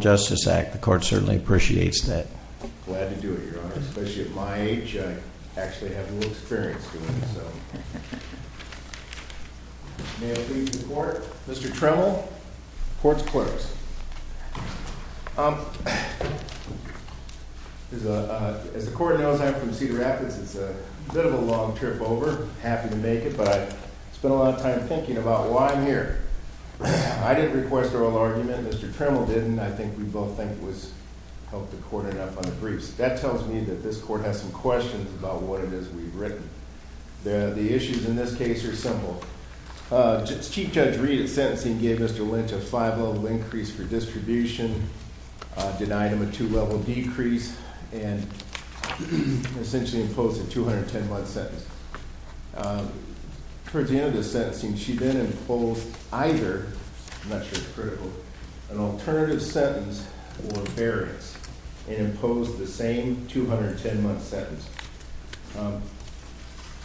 Justice Act. The court certainly appreciates that. Glad to do it, Your Honor. Especially at my age, I actually have little experience doing this, so... May I please report? Mr. Tremel, Court's Clerk. As the Court knows, I'm from Cedar Rapids. It's a bit of a long trip over. Happy to make it, but I've spent a lot of time thinking about why I'm here. I didn't request oral argument. Mr. Tremel didn't. I think we both think we helped the Court enough on the briefs. That tells me that this Court has some questions about what it is we've written. The issues in this case are simple. Chief Judge Reed, in sentencing, gave Mr. Lynch a 5-level increase for distribution, denied him a 2-level decrease, and essentially imposed a 210-month sentence. For example, in this sentencing, she then imposed either—I'm not sure it's critical—an alternative sentence or a variance, and imposed the same 210-month sentence.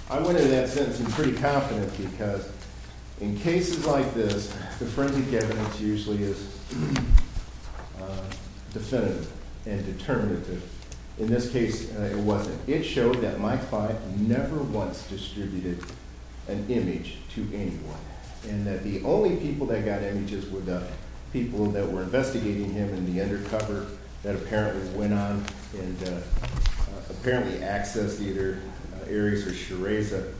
I went into that sentencing pretty confident, because in cases like this, the forensic evidence usually is definitive and determinative. In this case, it wasn't. It showed that Mike Fyfe never once distributed an image to anyone, and that the only people that got images were the people that were investigating him in the undercover that apparently went on and apparently accessed either Ares or Shereza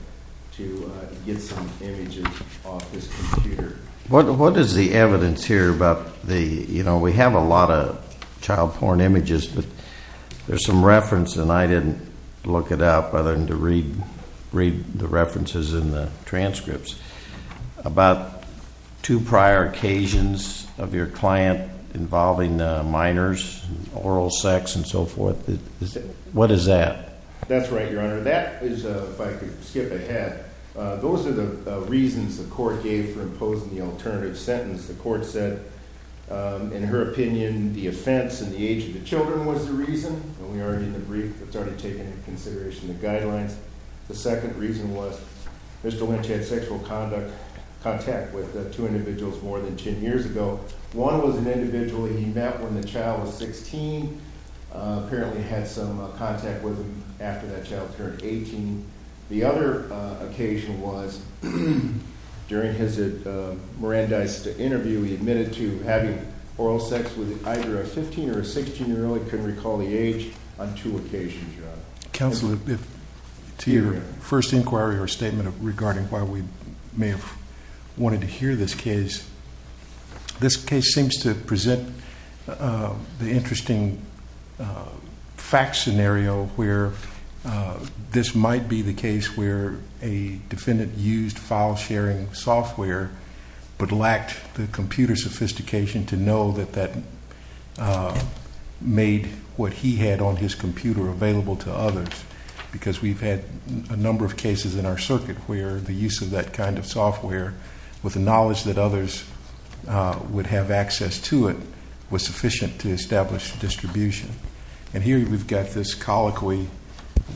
to get some images off this computer. What is the evidence here? We have a lot of child porn images, but there's some reference, and I didn't look it up, other than to read the references in the transcripts, about two prior occasions of your client involving minors, oral sex, and so forth. What is that? That's right, Your Honor. That is—if I could skip ahead—those are the reasons the court gave for imposing the alternative sentence. The court said, in her opinion, the offense in the age of the children was the reason, and we already in the brief have started taking into consideration the guidelines. The second reason was Mr. Lynch had sexual contact with two individuals more than 10 years ago. One was an individual he met when the child was 16, apparently had some contact with him after that child turned 18. The other occasion was, during his Mirandized interview, he admitted to having oral sex with either a 15- or a 16-year-old, couldn't recall the age, on two occasions, Your Honor. Counsel, to your first inquiry or statement regarding why we may have wanted to hear this case, this case seems to present the interesting fact scenario where this might be the case where a defendant used file-sharing software but lacked the computer sophistication to know that that made what he had on his computer available to others. Because we've had a number of cases in our circuit where the use of that kind of software, with the knowledge that others would have access to it, was sufficient to establish distribution. And here we've got this colloquy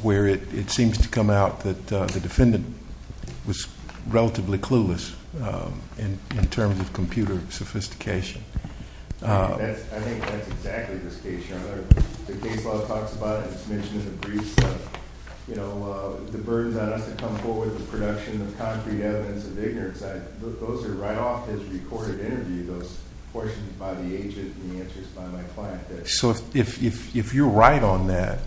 where it seems to come out that the defendant was relatively clueless in terms of computer sophistication. I think that's exactly the case, Your Honor. The case law talks about it, it's mentioned in the briefs, the burdens on us to come forward with the production of concrete evidence of ignorance, those are right off his recorded interview, those portions by the agent and the answers by my client. So if you're right on that,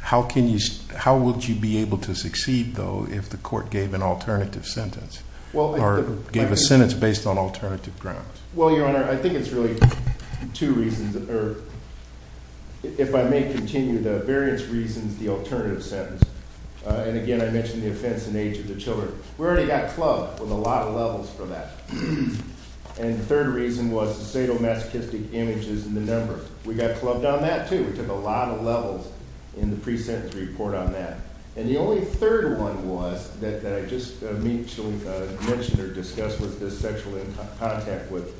how would you be able to succeed, though, if the court gave an alternative sentence? Or gave a sentence based on alternative grounds? Well, Your Honor, I think it's really two reasons. If I may continue, the various reasons, the alternative sentence. And again, I mentioned the offense in age of the children. We already got clubbed with a lot of levels for that. And the third reason was the sadomasochistic images in the number. We got clubbed on that, too. We took a lot of levels in the pre-sentence report on that. And the only third one was that I just mentioned or discussed with this sexual contact with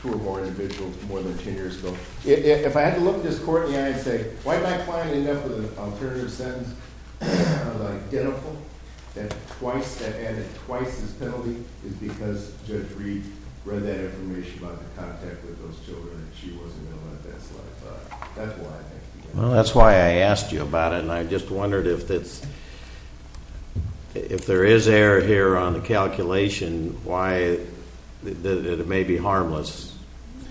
two or more individuals more than ten years ago. If I had to look at this court in the eye and say, why did my client end up with an alternative sentence that was identical, that added twice his penalty, is because Judge Reed read that information about the contact with those children and she wasn't going to let that slide. That's why I asked you that. Well, that's why I asked you about it and I just wondered if there is error here on the calculation, why it may be harmless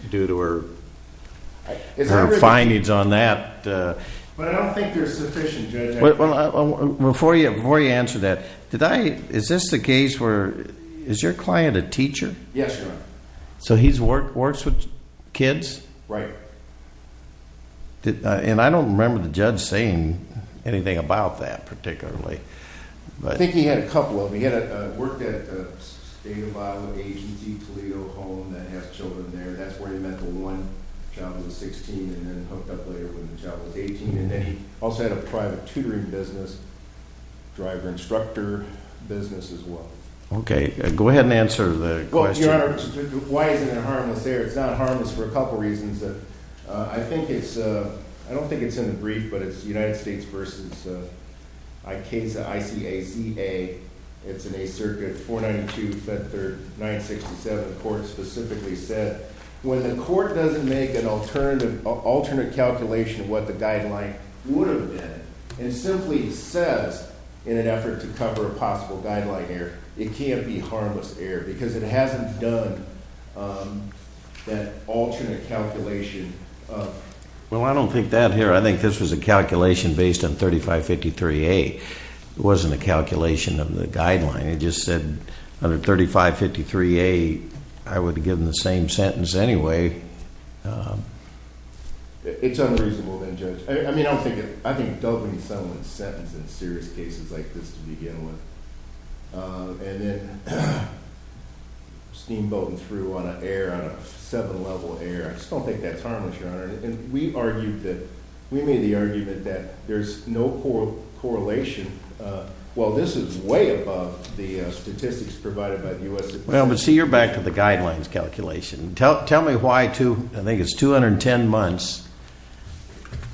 due to her findings on that. But I don't think there's sufficient evidence. Before you answer that, is this the case where, is your client a teacher? Yes, Your Honor. So he works with kids? Right. And I don't remember the judge saying anything about that particularly. I think he had a couple of them. He worked at a state of Iowa agency, Toledo Home, that has children there. That's where he met the one child who was 16 and then hooked up later with a child who was 18. And then he also had a private tutoring business, driver instructor business as well. Okay, go ahead and answer the question. Well, Your Honor, why isn't it harmless there? It's not harmless for a couple reasons. I think it's, I don't think it's in the brief, but it's United States v. ICAZA. It's an 8th Circuit, 492, Fed 3rd, 967. The court specifically said when the court doesn't make an alternate calculation of what the guideline would have been and simply says in an effort to cover a possible guideline error, it can't be harmless error because it hasn't done that alternate calculation. Well, I don't think that here. I think this was a calculation based on 3553A. It wasn't a calculation of the guideline. It just said under 3553A, I would have given the same sentence anyway. It's unreasonable then, Judge. I mean, I don't think it, I think doubling someone's sentence in serious cases like this to begin with. And then steamboating through on a 7-level error. I just don't think that's harmless, Your Honor. We argued that, we made the argument that there's no correlation. Well, this is way above the statistics provided by the U.S. Department of Justice. Well, but see, you're back to the guidelines calculation. Tell me why I think it's 210 months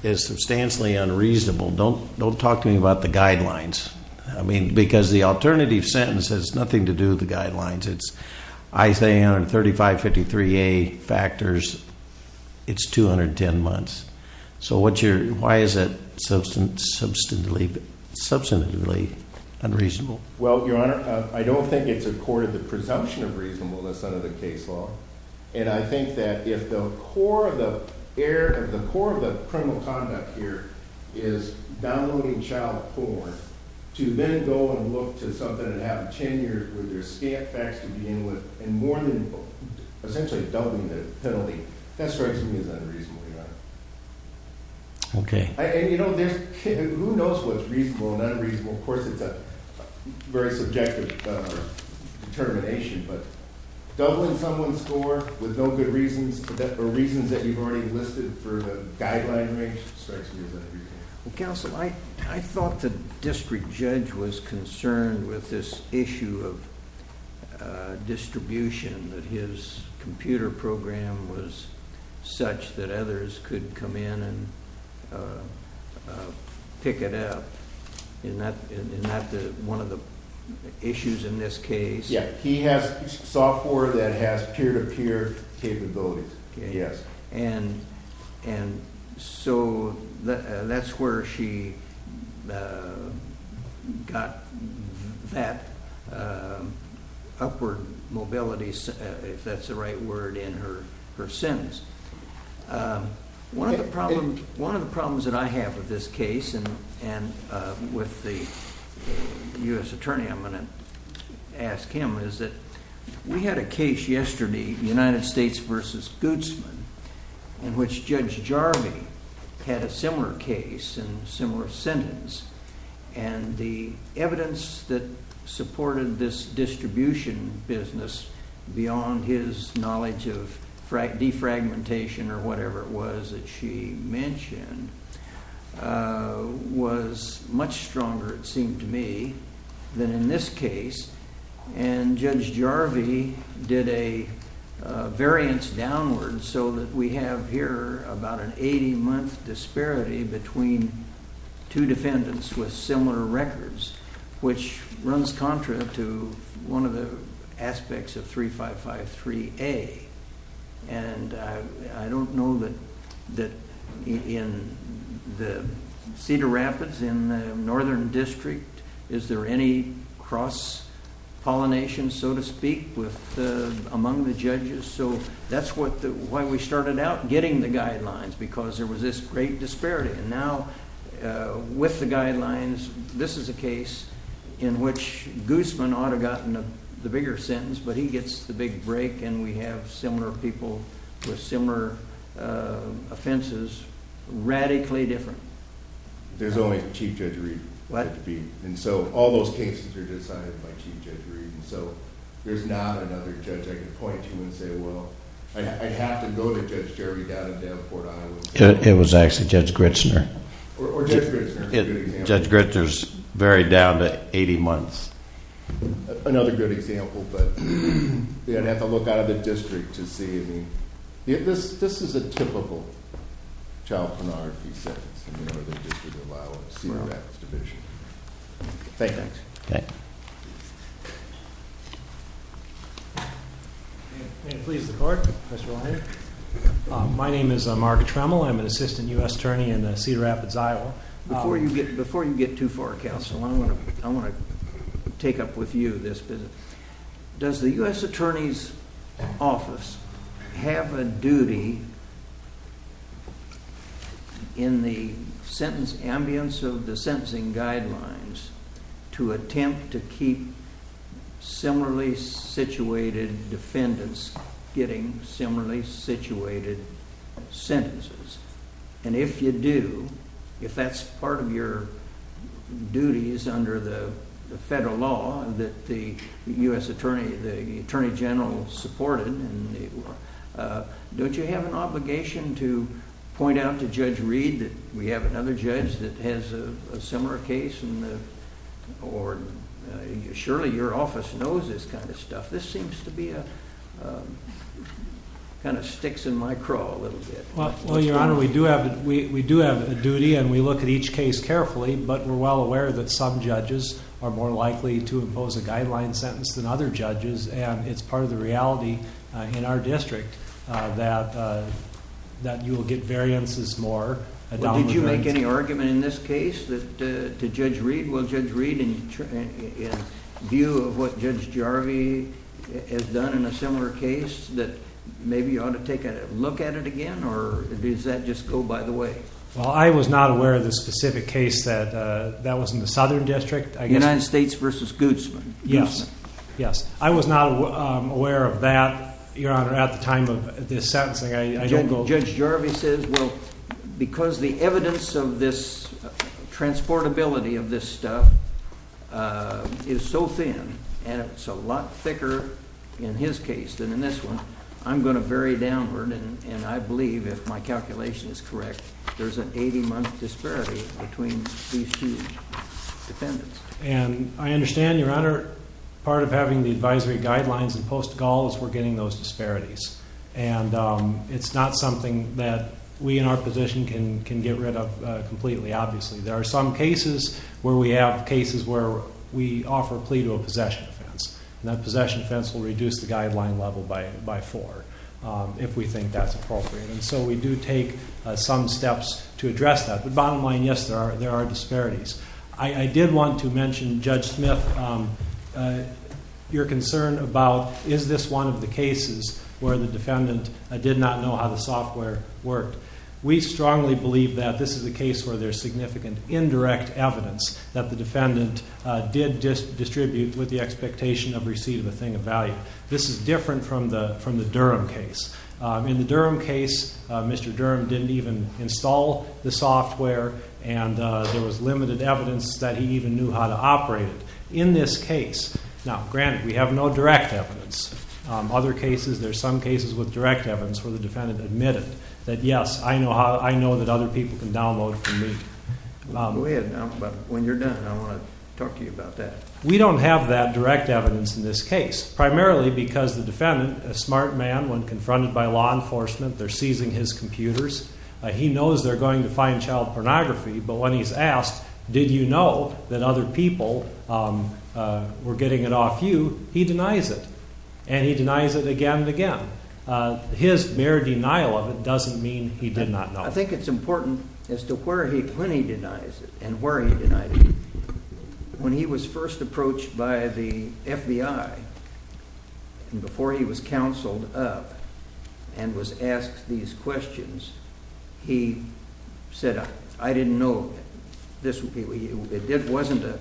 is substantially unreasonable. Don't talk to me about the guidelines. I mean, because the alternative sentence has nothing to do with the guidelines. I say under 3553A factors, it's 210 months. So why is it substantively unreasonable? Well, Your Honor, I don't think it's accorded the presumption of reasonableness under the case law. And I think that if the core of the error, if the core of the criminal conduct here is downloading child porn, to then go and look to something that happened 10 years where there's scant facts to begin with, and more than essentially doubling the penalty, that strikes me as unreasonable, Your Honor. Okay. And, you know, there's, who knows what's reasonable and unreasonable? Of course, it's a very subjective determination. But doubling someone's score with no good reasons or reasons that you've already listed for the guideline range strikes me as unreasonable. Counsel, I thought the district judge was concerned with this issue of distribution, that his computer program was such that others could come in and pick it up. And that's one of the issues in this case. Yeah, he has software that has peer-to-peer capabilities. Yes. And so that's where she got that upward mobility, if that's the right word, in her sentence. One of the problems that I have with this case, and with the U.S. attorney I'm going to ask him, is that we had a case yesterday, United States v. Gutzman, in which Judge Jarvie had a similar case and similar sentence. And the evidence that supported this distribution business, beyond his knowledge of defragmentation or whatever it was that she mentioned, was much stronger, it seemed to me, than in this case. And Judge Jarvie did a variance downward so that we have here about an 80-month disparity between two defendants with similar records, which runs contra to one of the aspects of 3553A. And I don't know that in the Cedar Rapids, in the Northern District, is there any cross-pollination, so to speak, among the judges. So that's why we started out getting the guidelines, because there was this great disparity. And now, with the guidelines, this is a case in which Gutzman ought to have gotten the bigger sentence, but he gets the big break, and we have similar people with similar offenses, radically different. There's only Chief Judge Reed. What? And so all those cases are decided by Chief Judge Reed. And so there's not another judge I can point to and say, well, I'd have to go to Judge Jarvie down in Davenport, Iowa. It was actually Judge Gritzner. Or Judge Gritzner's a good example. Judge Gritzner's very down to 80 months. Another good example, but you'd have to look out of the district to see. I mean, this is a typical child penalty sentence in the Northern District of Iowa, Cedar Rapids Division. Thank you. Okay. May it please the court, Professor Lyon. My name is Mark Tremel. I'm an assistant U.S. attorney in Cedar Rapids, Iowa. Before you get too far, counsel, I want to take up with you this business. Does the U.S. Attorney's Office have a duty in the sentence ambience of the sentencing guidelines to attempt to keep similarly situated defendants getting similarly situated sentences? And if you do, if that's part of your duties under the federal law that the U.S. Attorney General supported, don't you have an obligation to point out to Judge Reed that we have another judge that has a similar case? Or surely your office knows this kind of stuff. This seems to be a kind of sticks in my craw a little bit. Well, Your Honor, we do have a duty, and we look at each case carefully, but we're well aware that some judges are more likely to impose a guideline sentence than other judges, and it's part of the reality in our district that you will get variances more. Did you make any argument in this case to Judge Reed? Will Judge Reed, in view of what Judge Jarvie has done in a similar case, that maybe you ought to take a look at it again, or does that just go by the way? Well, I was not aware of the specific case that was in the Southern District. United States v. Gutzman. Yes, yes. I was not aware of that, Your Honor, at the time of this sentencing. Judge Jarvie says, well, because the evidence of this transportability of this stuff is so thin, and it's a lot thicker in his case than in this one, I'm going to vary downward, and I believe, if my calculation is correct, there's an 80-month disparity between these two defendants. And I understand, Your Honor, part of having the advisory guidelines in post-Gaul is we're getting those disparities, and it's not something that we in our position can get rid of completely, obviously. There are some cases where we have cases where we offer a plea to a possession offense, and that possession offense will reduce the guideline level by four, if we think that's appropriate. And so we do take some steps to address that. But bottom line, yes, there are disparities. I did want to mention, Judge Smith, your concern about is this one of the cases where the defendant did not know how the software worked. We strongly believe that this is a case where there's significant indirect evidence that the defendant did distribute with the expectation of receipt of a thing of value. This is different from the Durham case. In the Durham case, Mr. Durham didn't even install the software, and there was limited evidence that he even knew how to operate it. In this case, now, granted, we have no direct evidence. Other cases, there's some cases with direct evidence where the defendant admitted that, yes, I know that other people can download from me. Go ahead and talk about it. When you're done, I want to talk to you about that. We don't have that direct evidence in this case, primarily because the defendant, a smart man, when confronted by law enforcement, they're seizing his computers. He knows they're going to fine child pornography, but when he's asked, did you know that other people were getting it off you, he denies it, and he denies it again and again. His mere denial of it doesn't mean he did not know. I think it's important as to where he, when he denies it and where he denied it. When he was first approached by the FBI, and before he was counseled of and was asked these questions, he said, I didn't know. It wasn't a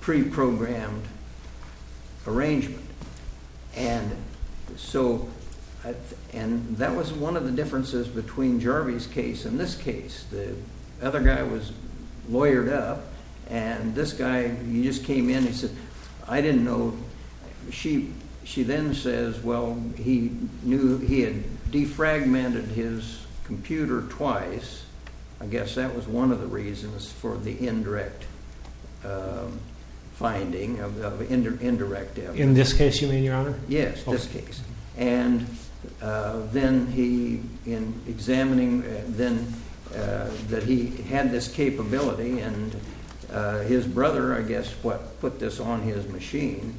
pre-programmed arrangement. And that was one of the differences between Jarvie's case and this case. The other guy was lawyered up, and this guy, he just came in, he said, I didn't know. She then says, well, he knew he had defragmented his computer twice. I guess that was one of the reasons for the indirect finding of indirect evidence. In this case, you mean, Your Honor? Yes, this case. And then he, in examining then that he had this capability, and his brother, I guess, put this on his machine.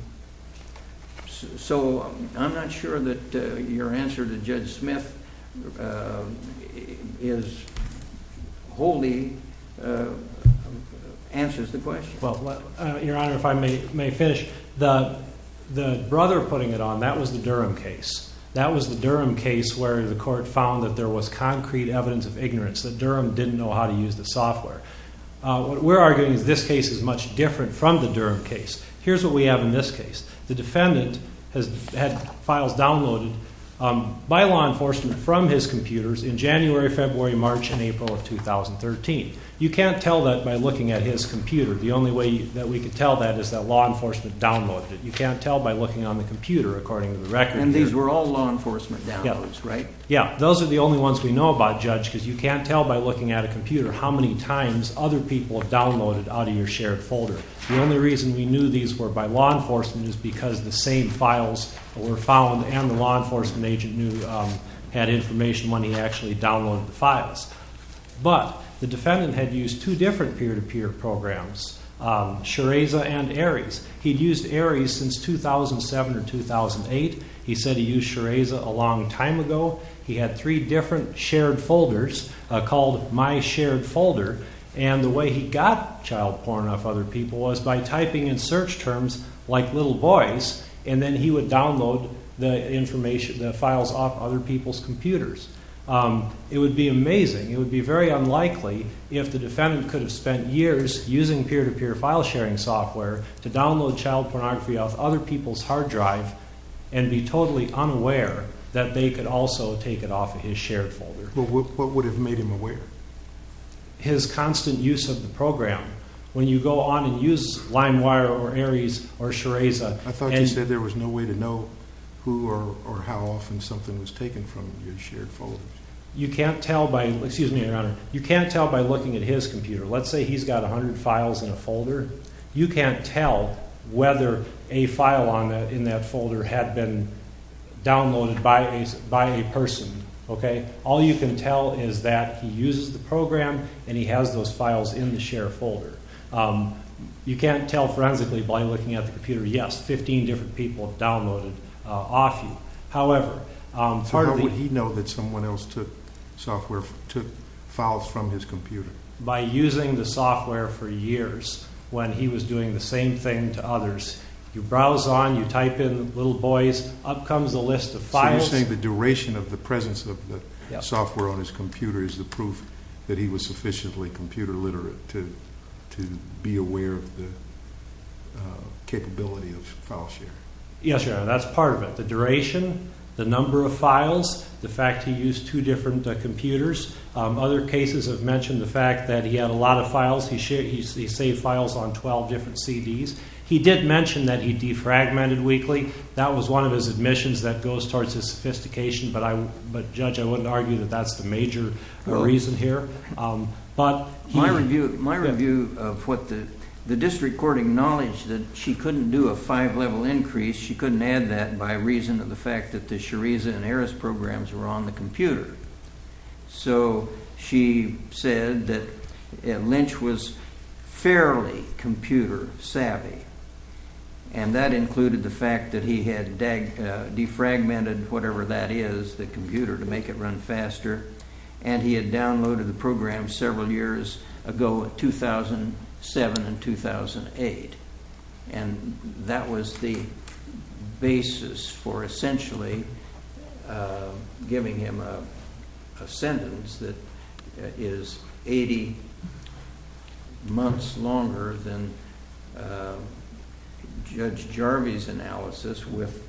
So I'm not sure that your answer to Judge Smith is wholly answers the question. Well, Your Honor, if I may finish, the brother putting it on, that was the Durham case. That was the Durham case where the court found that there was concrete evidence of ignorance, that Durham didn't know how to use the software. What we're arguing is this case is much different from the Durham case. Here's what we have in this case. The defendant had files downloaded by law enforcement from his computers in January, February, March, and April of 2013. You can't tell that by looking at his computer. The only way that we can tell that is that law enforcement downloaded it. You can't tell by looking on the computer, according to the record. And these were all law enforcement downloads, right? Yeah, those are the only ones we know about, Judge, because you can't tell by looking at a computer how many times other people have downloaded out of your shared folder. The only reason we knew these were by law enforcement is because the same files were found But the defendant had used two different peer-to-peer programs, Shareza and Aries. He'd used Aries since 2007 or 2008. He said he used Shareza a long time ago. He had three different shared folders called MySharedFolder, and the way he got child porn off other people was by typing in search terms like little boys, and then he would download the files off other people's computers. It would be amazing. It would be very unlikely if the defendant could have spent years using peer-to-peer file sharing software to download child pornography off other people's hard drive and be totally unaware that they could also take it off of his shared folder. Well, what would have made him aware? His constant use of the program. When you go on and use LimeWire or Aries or Shareza... I thought you said there was no way to know who or how often something was taken from your shared folders. You can't tell by looking at his computer. Let's say he's got 100 files in a folder. You can't tell whether a file in that folder had been downloaded by a person. All you can tell is that he uses the program and he has those files in the shared folder. You can't tell forensically by looking at the computer. Yes, 15 different people have downloaded off you. So how would he know that someone else took files from his computer? By using the software for years when he was doing the same thing to others. You browse on, you type in little boys, up comes the list of files. So you're saying the duration of the presence of the software on his computer is the proof that he was sufficiently computer literate to be aware of the capability of file sharing? Yes, that's part of it. The duration, the number of files, the fact he used two different computers. Other cases have mentioned the fact that he had a lot of files. He saved files on 12 different CDs. He did mention that he defragmented weekly. That was one of his admissions that goes towards his sophistication. But, Judge, I wouldn't argue that that's the major reason here. My review of the district court acknowledged that she couldn't do a five-level increase. She couldn't add that by reason of the fact that the Shariza and Eris programs were on the computer. So she said that Lynch was fairly computer savvy. And that included the fact that he had defragmented whatever that is, the computer, to make it run faster. And he had downloaded the program several years ago in 2007 and 2008. And that was the basis for essentially giving him a sentence that is 80 months longer than Judge Jarvie's analysis with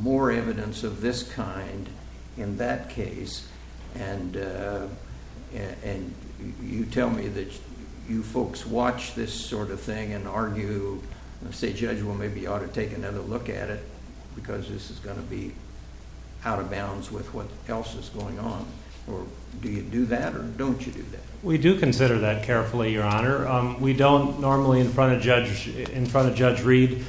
more evidence of this kind in that case. And you tell me that you folks watch this sort of thing and argue, say, Judge, well, maybe you ought to take another look at it because this is going to be out of bounds with what else is going on. Do you do that or don't you do that? We do consider that carefully, Your Honor. We don't normally in front of Judge Reed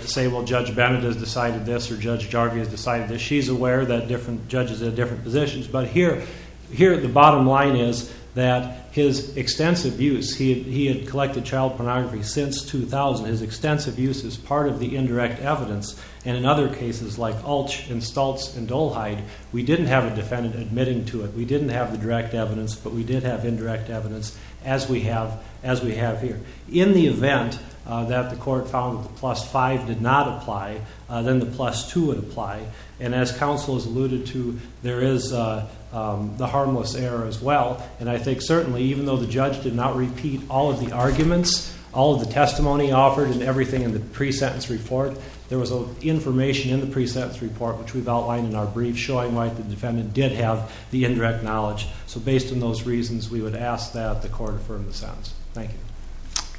say, well, Judge Bennett has decided this or Judge Jarvie has decided this. She's aware that different judges have different positions. But here the bottom line is that his extensive use, he had collected child pornography since 2000. His extensive use is part of the indirect evidence. And in other cases like Ulch and Stultz and Dolheide, we didn't have a defendant admitting to it. We didn't have the direct evidence, but we did have indirect evidence as we have here. In the event that the court found that the plus 5 did not apply, then the plus 2 would apply. And as counsel has alluded to, there is the harmless error as well. And I think certainly even though the judge did not repeat all of the arguments, all of the testimony offered and everything in the pre-sentence report, there was information in the pre-sentence report which we've outlined in our brief showing why the defendant did have the indirect knowledge. So based on those reasons, we would ask that the court affirm the sentence. Thank you.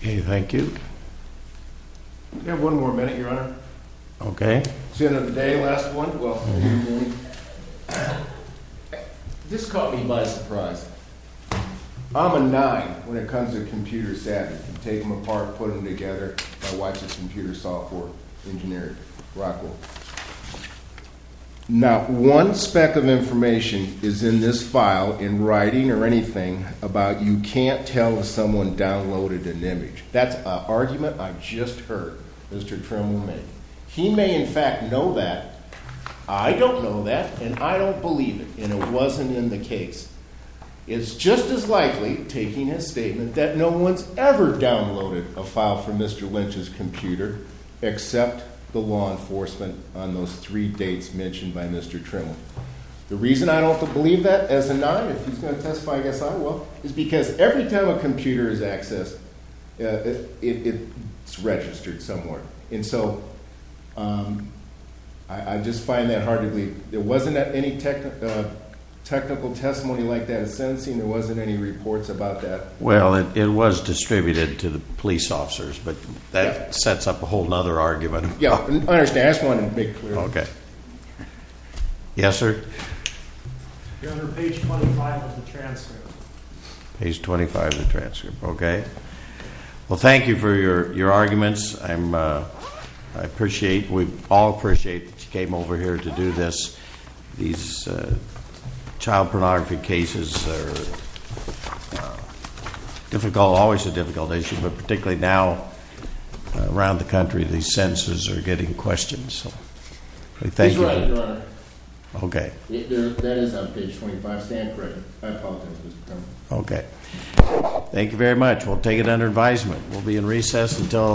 Okay, thank you. We have one more minute, Your Honor. Okay. Sentence of the day, last one. This caught me by surprise. I'm a nine when it comes to computer savvy. Take them apart, put them together. My wife is a computer software engineer at Rockwell. Not one speck of information is in this file, in writing or anything, about you can't tell if someone downloaded an image. That's an argument I just heard Mr. Trimble make. He may in fact know that. I don't know that, and I don't believe it, and it wasn't in the case. It's just as likely, taking his statement, that no one's ever downloaded a file from Mr. Lynch's computer except the law enforcement on those three dates mentioned by Mr. Trimble. The reason I don't believe that as a nine, if he's going to testify, I guess I will, is because every time a computer is accessed, it's registered somewhere. And so I just find that hard to believe. There wasn't any technical testimony like that in sentencing. There wasn't any reports about that. Well, it was distributed to the police officers, but that sets up a whole other argument. Yeah, I understand. I just wanted to make it clear. Okay. Yes, sir? You're under page 25 of the transcript. Page 25 of the transcript, okay. Well, thank you for your arguments. I appreciate, we all appreciate that you came over here to do this. These child pornography cases are difficult, always a difficult issue, but particularly now around the country, these sentences are getting questioned. He's right, Your Honor. Okay. That is on page 25. Stand corrected. I apologize, Mr. Trimble. Okay. Thank you very much. We'll take it under advisement. We'll be in recess until-